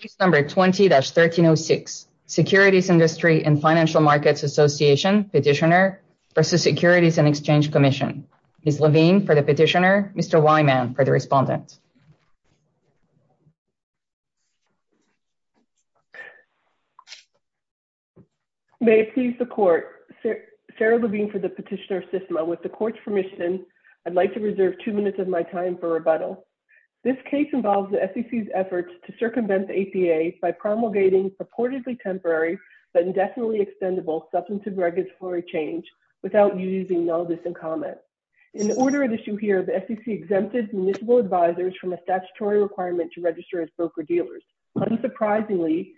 Case number 20-1306, Securities Industry and Financial Markets Association, Petitioner v. Securities and Exchange Commission. Ms. Levine for the Petitioner, Mr. Wyman for the Respondent. May it please the Court, Sarah Levine for the Petitioner Systema. With the Court's permission, I'd like to reserve two minutes of my time for rebuttal. This case involves the SEC's to circumvent the APA by promulgating purportedly temporary but indefinitely extendable substantive regulatory change without using notice and comment. In order of issue here, the SEC exempted municipal advisors from a statutory requirement to register as broker-dealers. Unsurprisingly,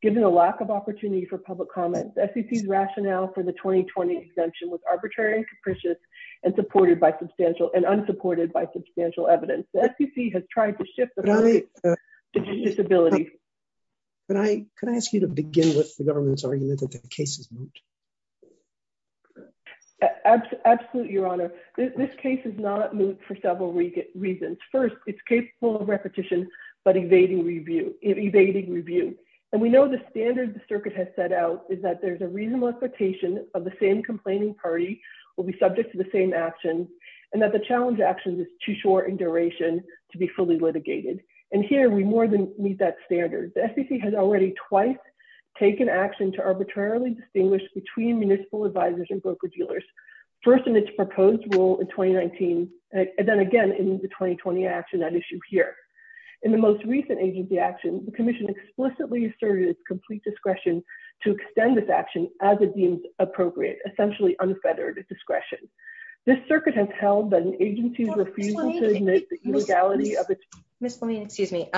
given the lack of opportunity for public comment, the SEC's rationale for the 2020 exemption was arbitrary and capricious and unsupported by substantial evidence. The SEC has tried to shift the focus to disability. Could I ask you to begin with the government's argument that the case is moot? Absolutely, Your Honor. This case is not moot for several reasons. First, it's capable of repetition but evading review. And we know the standards the circuit has set out is that there's a reasonable expectation of the same complaining party will be subject to the same actions and that the challenge actions is too short in duration to be fully litigated. And here we more than meet that standard. The SEC has already twice taken action to arbitrarily distinguish between municipal advisors and broker-dealers, first in its proposed rule in 2019 and then again in the 2020 action at issue here. In the most recent agency action, the commission explicitly asserted its complete discretion to extend this action as it deems appropriate, essentially unfettered discretion. This circuit has held that an agency's refusal to admit the illegality of its- Ms. Lameen, excuse me.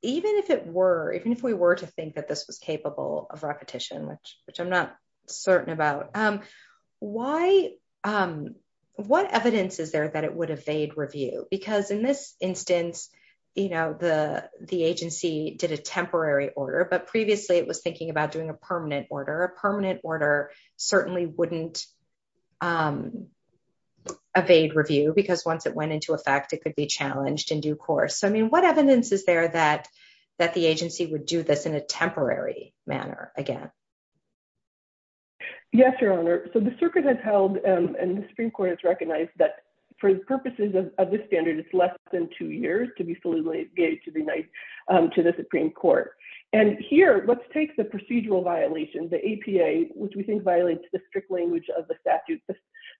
Even if it were, even if we were to think that this was capable of repetition, which I'm not certain about, what evidence is there that it would evade review? Because in this instance, the agency did a temporary order, but previously it was thinking about doing a permanent order. A permanent order certainly wouldn't evade review because once it went into effect, it could be challenged in due course. So I mean, what evidence is there that the agency would do this in a temporary manner again? Yes, Your Honor. So the circuit has held and the Supreme Court has recognized that for the purposes of this standard, it's less than two years to be fully litigated to the Supreme Court. And here, let's take the procedural violation, the APA, which we think violates the strict language of the statute. The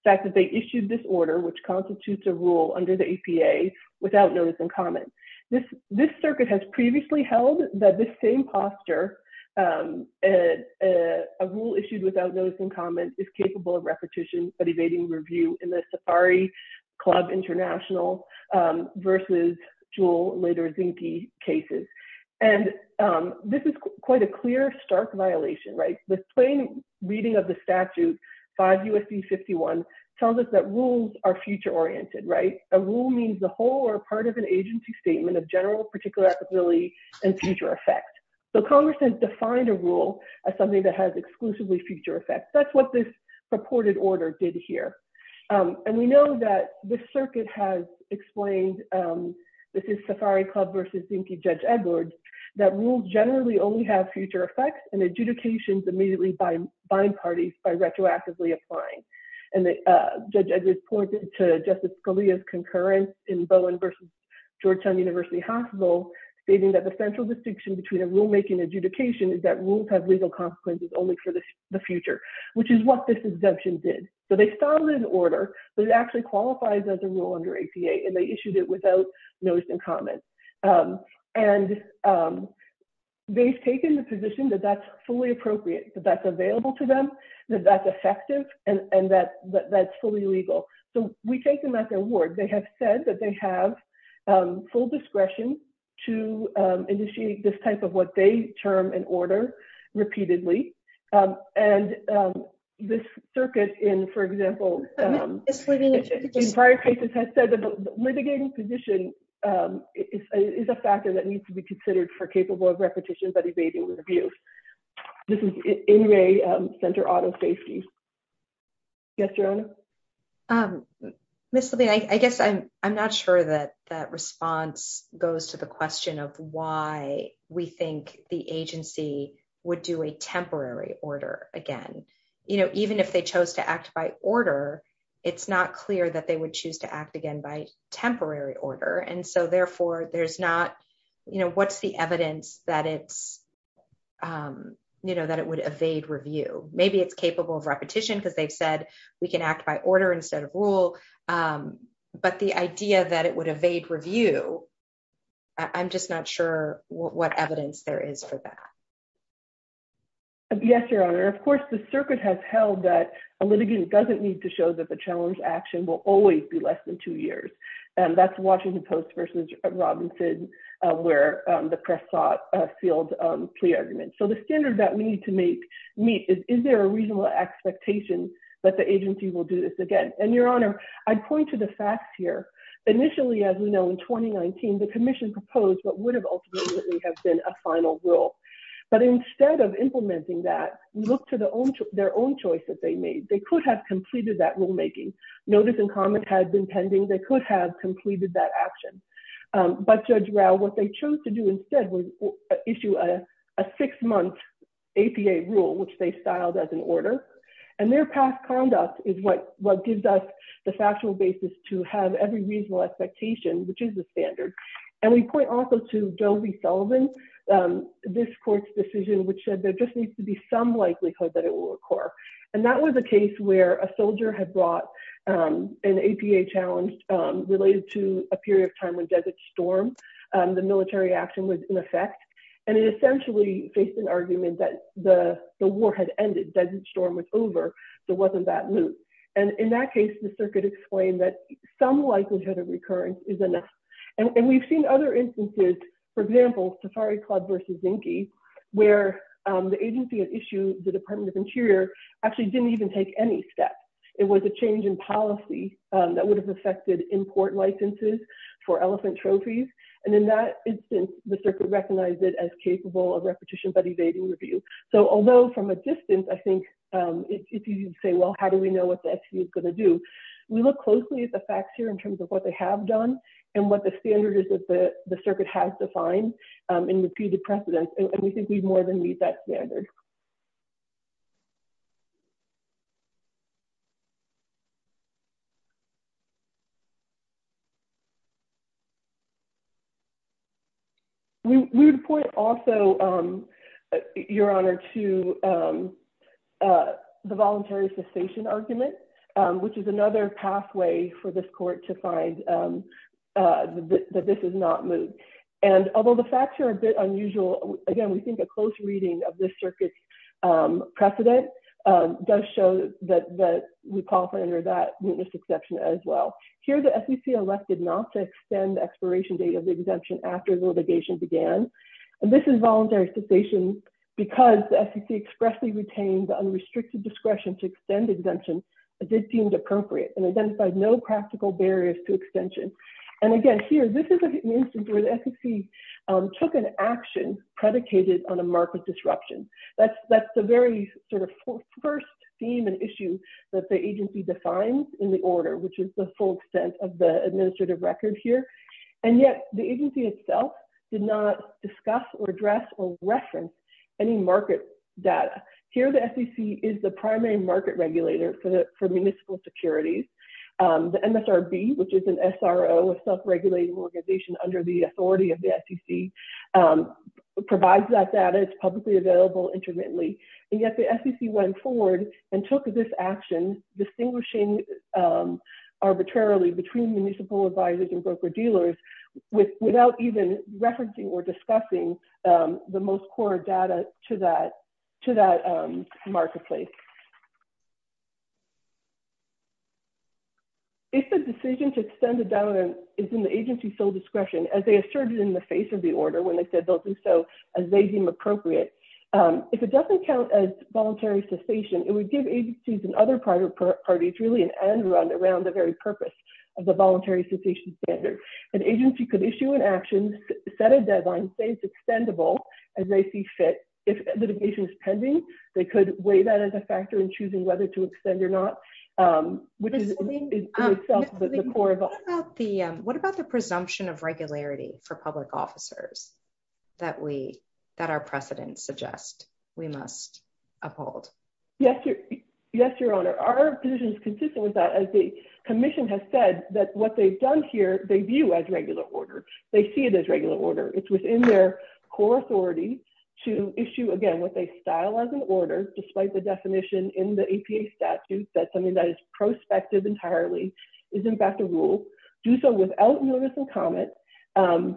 fact that they issued this order, which constitutes a rule under the APA without notice and comment. This circuit has previously held that this same posture, a rule issued without notice and comment is capable of repetition, but evading review in the this is quite a clear, stark violation, right? The plain reading of the statute, 5 U.S.C. 51, tells us that rules are future oriented, right? A rule means the whole or part of an agency statement of general particular applicability and future effect. So Congress has defined a rule as something that has exclusively future effects. That's what this purported order did here. And we generally only have future effects and adjudications immediately by bind parties by retroactively applying. And the judge pointed to Justice Scalia's concurrence in Bowen versus Georgetown University Hospital, stating that the central distinction between a rulemaking adjudication is that rules have legal consequences only for the future, which is what this exemption did. So they started an order, but it actually qualifies as a rule under APA, and they issued it without notice and comment. And they've taken the position that that's fully appropriate, that that's available to them, that that's effective, and that that's fully legal. So we take them at their word. They have said that they have full discretion to initiate this type of what they term an order repeatedly. And this circuit in, for example, in prior cases, has said that the litigating position is a factor that needs to be considered for capable of repetition, but evading with abuse. This is Inouye Center Auto Safety. Yes, Your Honor? Ms. Levine, I guess I'm not sure that that response goes to the question of why we think the agency would do a temporary order again. You know, even if they chose to act by order, it's not clear that they would choose to act again by temporary order. And so therefore, there's not, you know, what's the evidence that it's, you know, that it would evade review? Maybe it's capable of repetition, because they've said, we can act by order instead of rule. But the idea that it would evade review, I'm just not sure what evidence there is for that. Yes, Your Honor, of course, the circuit has held that a litigant doesn't need to show that the challenge action will always be less than two years. And that's Washington Post versus Robinson, where the press sought field plea arguments. So the standard that we need to make meet is, is there a reasonable expectation that the agency will do this again? And Your Honor, I point to the facts here. Initially, as we know, in 2019, the commission proposed what has been a final rule. But instead of implementing that, look to their own choice that they made, they could have completed that rulemaking. Notice and comment had been pending, they could have completed that action. But Judge Rao, what they chose to do instead was issue a six-month APA rule, which they styled as an order. And their past conduct is what gives us the factual basis to have every reasonable expectation, which is the standard. And we point also to Joe V. Sullivan, this court's decision, which said there just needs to be some likelihood that it will occur. And that was a case where a soldier had brought an APA challenge related to a period of time when Desert Storm, the military action was in effect. And it essentially faced an argument that the war had ended, Desert Storm was over, there wasn't that loop. And in that case, the circuit explained that some likelihood of recurrence is enough. And we've seen other instances, for example, Safari Club versus Zinke, where the agency that issued the Department of Interior actually didn't even take any steps. It was a change in policy that would have affected import licenses for elephant trophies. And in that instance, the circuit recognized it as capable of repetition but evading review. So although from a distance, I think it's easy to say, well, how do we know what the FTE is going to do? We look closely at the facts here in terms of what they have done, and what the standard is that the circuit has defined in repeated precedence. And we think we more than meet that standard. We would point also, Your Honor, to the voluntary cessation argument, which is another pathway for this court to find that this is not moot. And although the facts are a bit unusual, again, we think a close reading of this circuit's precedent does show that we qualify under that mootness exception as well. Here, the SEC elected not to extend the expiration date of the exemption after the litigation began. And this involuntary cessation, because the SEC expressly retained the unrestricted discretion to extend exemption, did seem appropriate and identified no practical barriers to extension. And again, here, this is an instance where the SEC took an action predicated on a market disruption. That's the very sort of first theme and issue that the agency defines in the order, which is the full extent of the administrative record here. And yet, the agency itself did not discuss or address or reference any market data. Here, the SEC is the primary market regulator for municipal securities. The MSRB, which is an SRO, a self-regulating organization under the authority of the SEC, provides that data. It's publicly available intermittently. And yet, the SEC went forward and took this action, distinguishing arbitrarily between municipal advisors and the most core data to that marketplace. If the decision to extend the deadline is in the agency's sole discretion, as they asserted in the face of the order when they said they'll do so as they deem appropriate, if it doesn't count as voluntary cessation, it would give agencies and other private parties really an end run around the very purpose of the voluntary cessation standard. An agency could issue an action, set a deadline, say it's extendable, as they see fit. If litigation is pending, they could weigh that as a factor in choosing whether to extend or not, which is in itself the core of all. What about the presumption of regularity for public officers that our precedents suggest we must uphold? Yes, Your Honor. Our position is consistent with that, as the commission has said, that what they've done here they view as regular order. They see it as regular order. It's within their core authority to issue, again, what they style as an order, despite the definition in the APA statute that something that is prospective entirely is, in fact, a rule, do so without notice and comment, and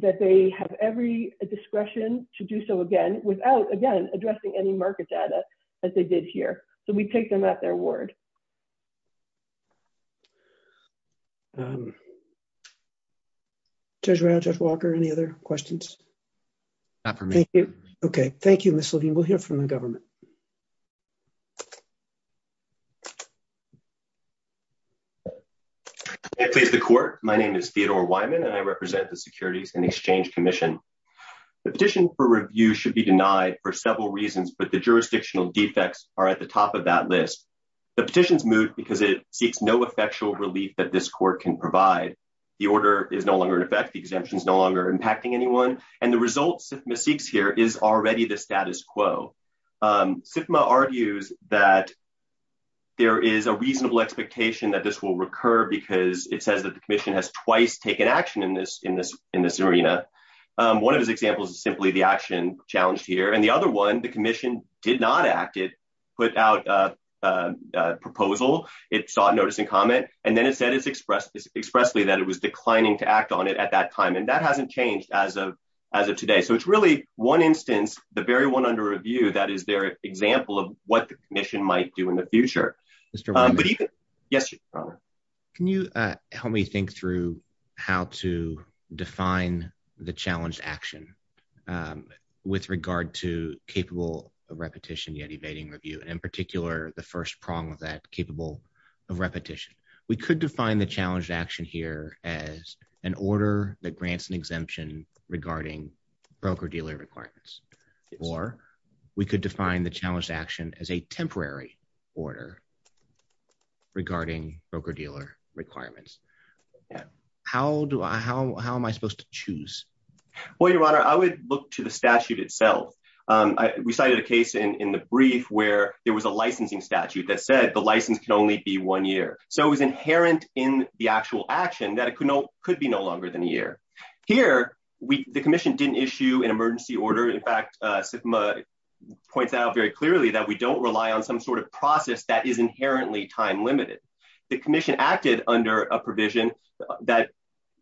that they have every discretion to do so, again, without, again, addressing any market data as they did here. So we take them at their word. Judge Rao, Judge Walker, any other questions? Not for me. Thank you. Okay. Thank you, Ms. Levine. We'll hear from the government. May it please the Court. My name is Theodore Wyman, and I represent the Securities and Exchange Commission. The petition for review should be denied for several reasons, but the jurisdictional effectual relief that this Court can provide. The order is no longer in effect. The exemption is no longer impacting anyone. And the results SIFMA seeks here is already the status quo. SIFMA argues that there is a reasonable expectation that this will recur because it says that the commission has twice taken action in this arena. One of those examples is simply the action challenged here. And the other one, the commission did not act. It put out a proposal. It sought notice and comment. And then it said expressly that it was declining to act on it at that time. And that hasn't changed as of today. So it's really one instance, the very one under review, that is their example of what the commission might do in the future. Can you help me think through how to define the challenged action with regard to capable of repetition yet evading review, and in particular, the first prong of that, capable of repetition. We could define the challenged action here as an order that grants an exemption regarding broker-dealer requirements. Or we could define the challenged action as a temporary order regarding broker-dealer requirements. How am I supposed to choose? Well, Your Honor, I would look to the statute itself. We cited a case in the brief where there was a licensing statute that said the license can only be one year. So it was inherent in the actual action that it could be no longer than a year. Here, the commission didn't issue an emergency order. In fact, SIFMA points out very clearly that we don't rely on some sort of process that is inherently time-limited. The commission acted under a provision that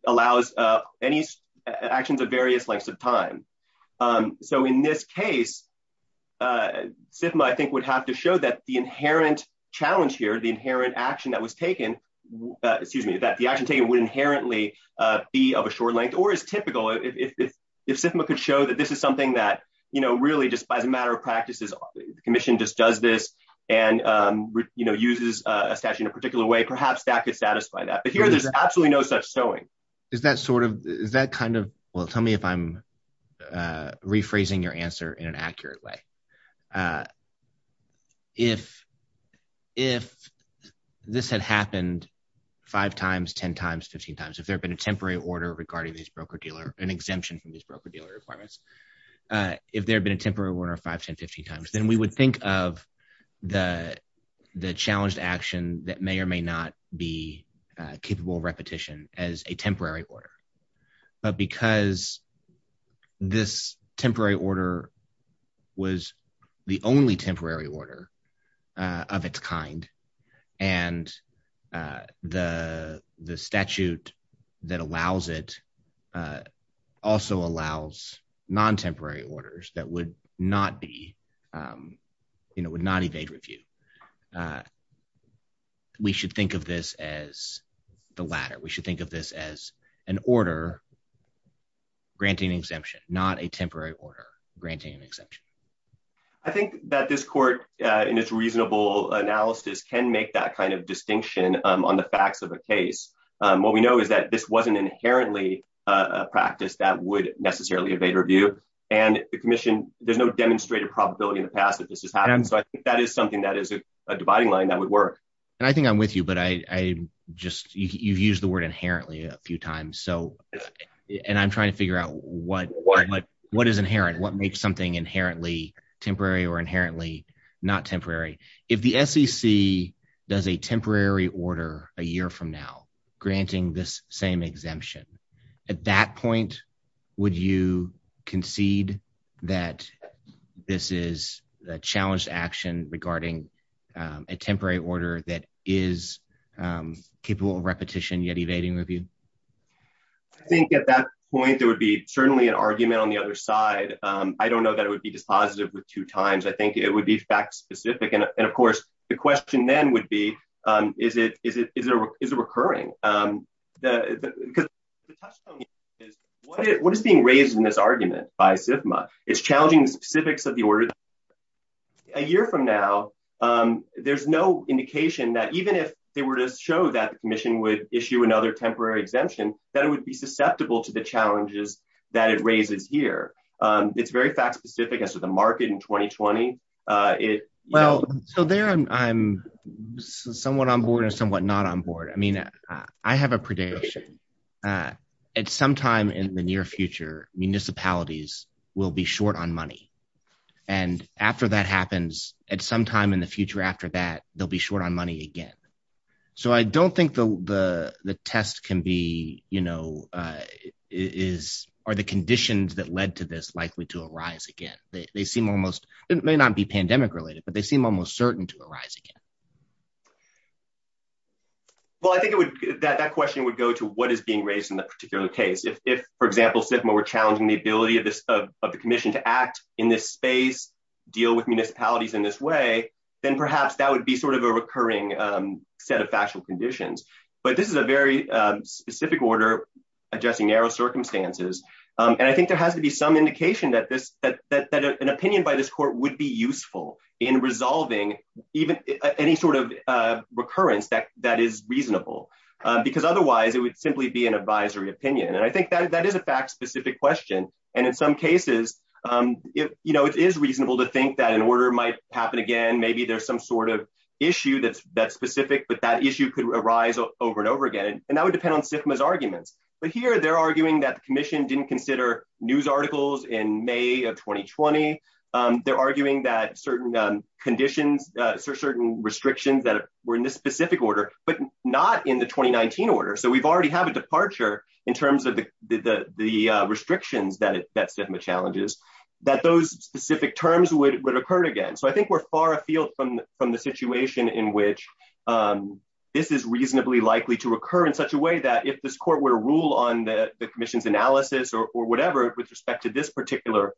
allows any actions of various lengths of time. So in this case, SIFMA, I think, would have to show that the inherent challenge here, the inherent action that was taken, excuse me, that the action taken would inherently be of a short length or is typical. If SIFMA could show that this is something that really just by the matter of practices, the commission just does this and uses a statute in a particular way, perhaps that could satisfy that. But here, there's absolutely no such showing. Is that sort of, is that kind of, well, tell me if I'm rephrasing your answer in an accurate way. If this had happened five times, 10 times, 15 times, if there had been a temporary order regarding these broker-dealer, an exemption from these broker-dealer requirements, if there had been a temporary order five, 10, 15 times, then we would think of the challenged action that may or may not be capable of repetition as a temporary order. But because this temporary order was the only temporary order of its kind and the statute that allows it also allows non-temporary orders that would not be, you know, would not evade review, we should think of this as the latter. We should think of this as an order granting exemption, not a temporary order granting an exemption. I think that this court in its reasonable analysis can make that kind of distinction on the facts of a case. What we know is that this wasn't inherently a practice that would necessarily evade review. And the commission, there's no demonstrated probability in the past that this has happened. So I think that is something that is a dividing line that would work. And I think I'm with you, but I just, you've used the word inherently a few times. So, and I'm trying to figure out what is inherent, what makes something inherently temporary or a temporary order a year from now granting this same exemption? At that point, would you concede that this is a challenged action regarding a temporary order that is capable of repetition yet evading review? I think at that point, there would be certainly an argument on the other side. I don't know that it would be dispositive with two times. I think it would be fact specific. And of course the question then would be, is it recurring? Because the touchstone is, what is being raised in this argument by SFMA? It's challenging the specifics of the order. A year from now, there's no indication that even if they were to show that the commission would issue another temporary exemption, that it would be susceptible to the challenges that it raises here. It's very fact specific as to the market in 2020. Well, so there I'm somewhat on board and somewhat not on board. I mean, I have a prediction. At some time in the near future, municipalities will be short on money. And after that happens, at some time in the future after that, they'll be short on money again. So I don't think the test can be, are the conditions that led to this likely to arise again? They seem almost, it may not be pandemic related, but they seem almost certain to arise again. Well, I think that question would go to what is being raised in that particular case. If, for example, SFMA were challenging the ability of the commission to act in this space, deal with municipalities in this way, then perhaps that would be sort of a recurring set of factual conditions. But this is a very specific order addressing narrow circumstances. And I think there has to be some indication that an opinion by this court would be useful in resolving any sort of recurrence that is reasonable, because otherwise it would simply be an advisory opinion. And I think that is a fact specific question. And in some cases, it is reasonable to think that an order might happen again. Maybe there's some sort of issue that's specific, but that issue could arise over and over again. And that would depend on whether the commission didn't consider news articles in May of 2020. They're arguing that certain conditions, certain restrictions that were in this specific order, but not in the 2019 order. So we've already have a departure in terms of the restrictions that SFMA challenges, that those specific terms would occur again. So I think we're far afield from the situation in which this is reasonably likely to recur in such a way that if this court were to rule on the commission's analysis or whatever, with respect to this particular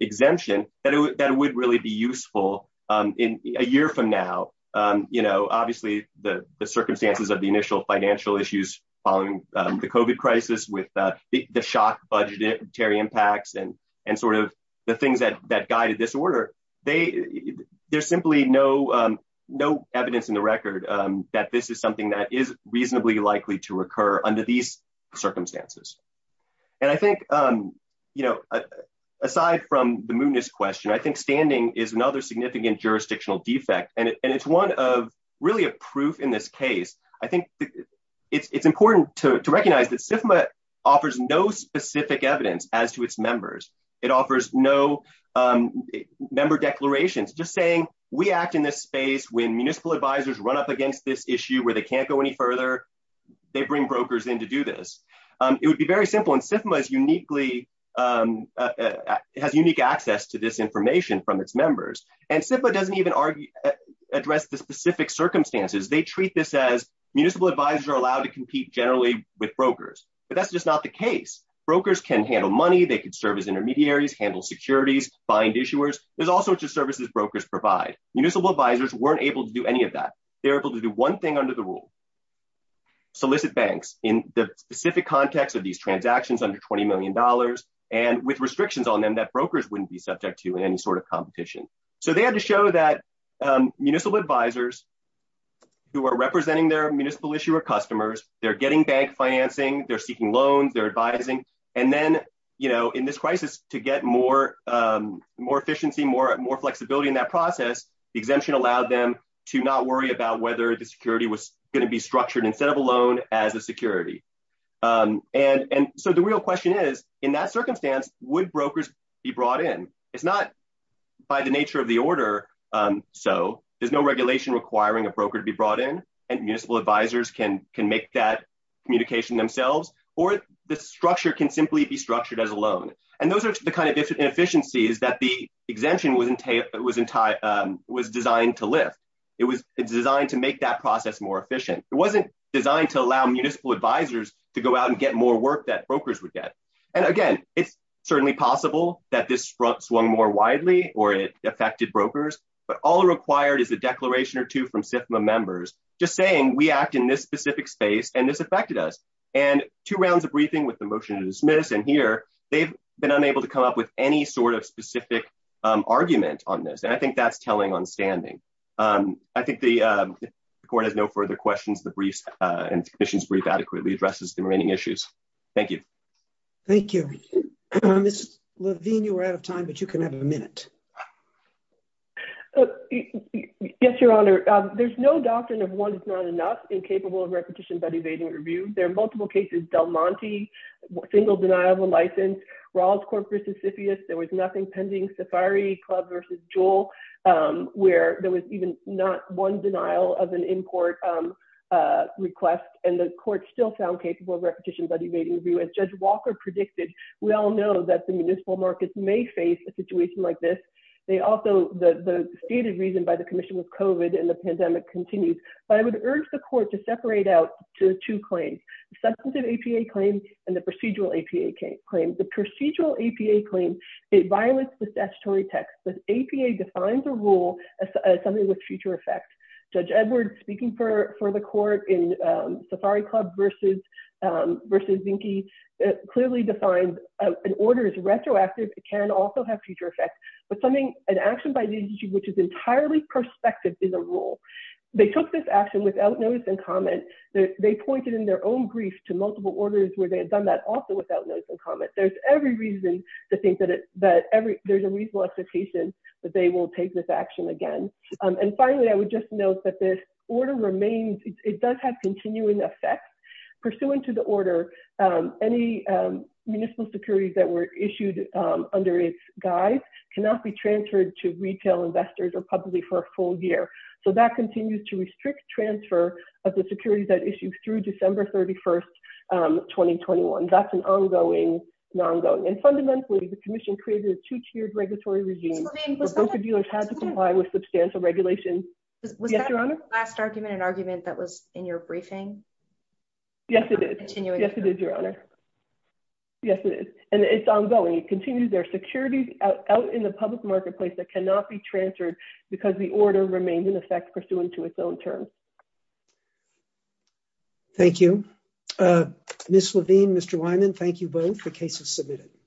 exemption, that it would really be useful in a year from now. Obviously, the circumstances of the initial financial issues following the COVID crisis with the shock budgetary impacts and sort of the things that guided this order, there's simply no evidence in the record that this is something that is circumstances. And I think, you know, aside from the mootness question, I think standing is another significant jurisdictional defect. And it's one of really a proof in this case. I think it's important to recognize that SFMA offers no specific evidence as to its members. It offers no member declarations, just saying we act in this space when municipal advisors run up against this issue where they can't go any further, they bring brokers in to do this. It would be very simple. And SFMA has unique access to this information from its members. And SFMA doesn't even address the specific circumstances. They treat this as municipal advisors are allowed to compete generally with brokers. But that's just not the case. Brokers can handle money, they can serve as intermediaries, handle securities, find issuers. There's all sorts of services brokers provide. Municipal advisors weren't able to do any of that. They're able to do one thing under the rule, solicit banks in the specific context of these transactions under $20 million and with restrictions on them that brokers wouldn't be subject to in any sort of competition. So they had to show that municipal advisors who are representing their municipal issuer customers, they're getting bank financing, they're seeking loans, they're advising. And then, you know, in this crisis to get more efficiency, more flexibility in that process, the exemption allowed them to not worry about whether the security was going to be structured instead of a loan as a security. And so the real question is, in that circumstance, would brokers be brought in? It's not by the nature of the order. So there's no regulation requiring a broker to be brought in and municipal advisors can make that communication themselves. Or the structure can simply be structured as a loan. And those are the kind inefficiencies that the exemption was designed to lift. It was designed to make that process more efficient. It wasn't designed to allow municipal advisors to go out and get more work that brokers would get. And again, it's certainly possible that this sprung more widely or it affected brokers, but all required is a declaration or two from SIFMA members just saying we act in this specific space and this affected us. And two rounds of briefing with the motion to dismiss and they've been unable to come up with any sort of specific argument on this. And I think that's telling on standing. I think the court has no further questions. The brief and the commission's brief adequately addresses the remaining issues. Thank you. Thank you. Ms. Levine, you were out of time, but you can have a minute. Yes, Your Honor. There's no doctrine of one is not enough incapable of repetition by the evading review. There are multiple cases, Del Monte, single denial of a license, Rawls Court versus Siphius. There was nothing pending. Safari Club versus Jewel, where there was even not one denial of an import request. And the court still found capable of repetition by the evading review. As Judge Walker predicted, we all know that the municipal markets may face a situation like this. They also, the stated reason by the commission was COVID and the pandemic continues. But I would urge the court to separate out to two claims. Substantive APA claims and the procedural APA claims. The procedural APA claims, it violates the statutory text. The APA defines a rule as something with future effect. Judge Edwards, speaking for the court in Safari Club versus Zinke, clearly defined an order is retroactive. It can also have future effects. But something, an action by the agency, which is entirely perspective is a rule. They took this action without notice and comment. They pointed in their own brief to multiple orders where they had done that also without notice and comment. There's every reason to think that there's a reasonable expectation that they will take this action again. And finally, I would just note that this order remains, it does have continuing effects. Pursuant to the order, any municipal securities that were issued under its guise cannot be transferred to retail investors or publicly for a full year. So that continues to restrict transfer of the securities that issued through December 31st, 2021. That's an ongoing, non-ongoing. And fundamentally, the commission created a two-tiered regulatory regime where broker dealers had to comply with substantial regulations. Yes, Your Honor? Was that last argument an argument that was in your briefing? Yes, it is. Yes, it is, Your Honor. Yes, it is. And it's ongoing. It continues. There are securities out in the public marketplace that cannot be transferred because the order remained in effect pursuant to its own term. Thank you. Ms. Levine, Mr. Wyman, thank you both. The case is submitted.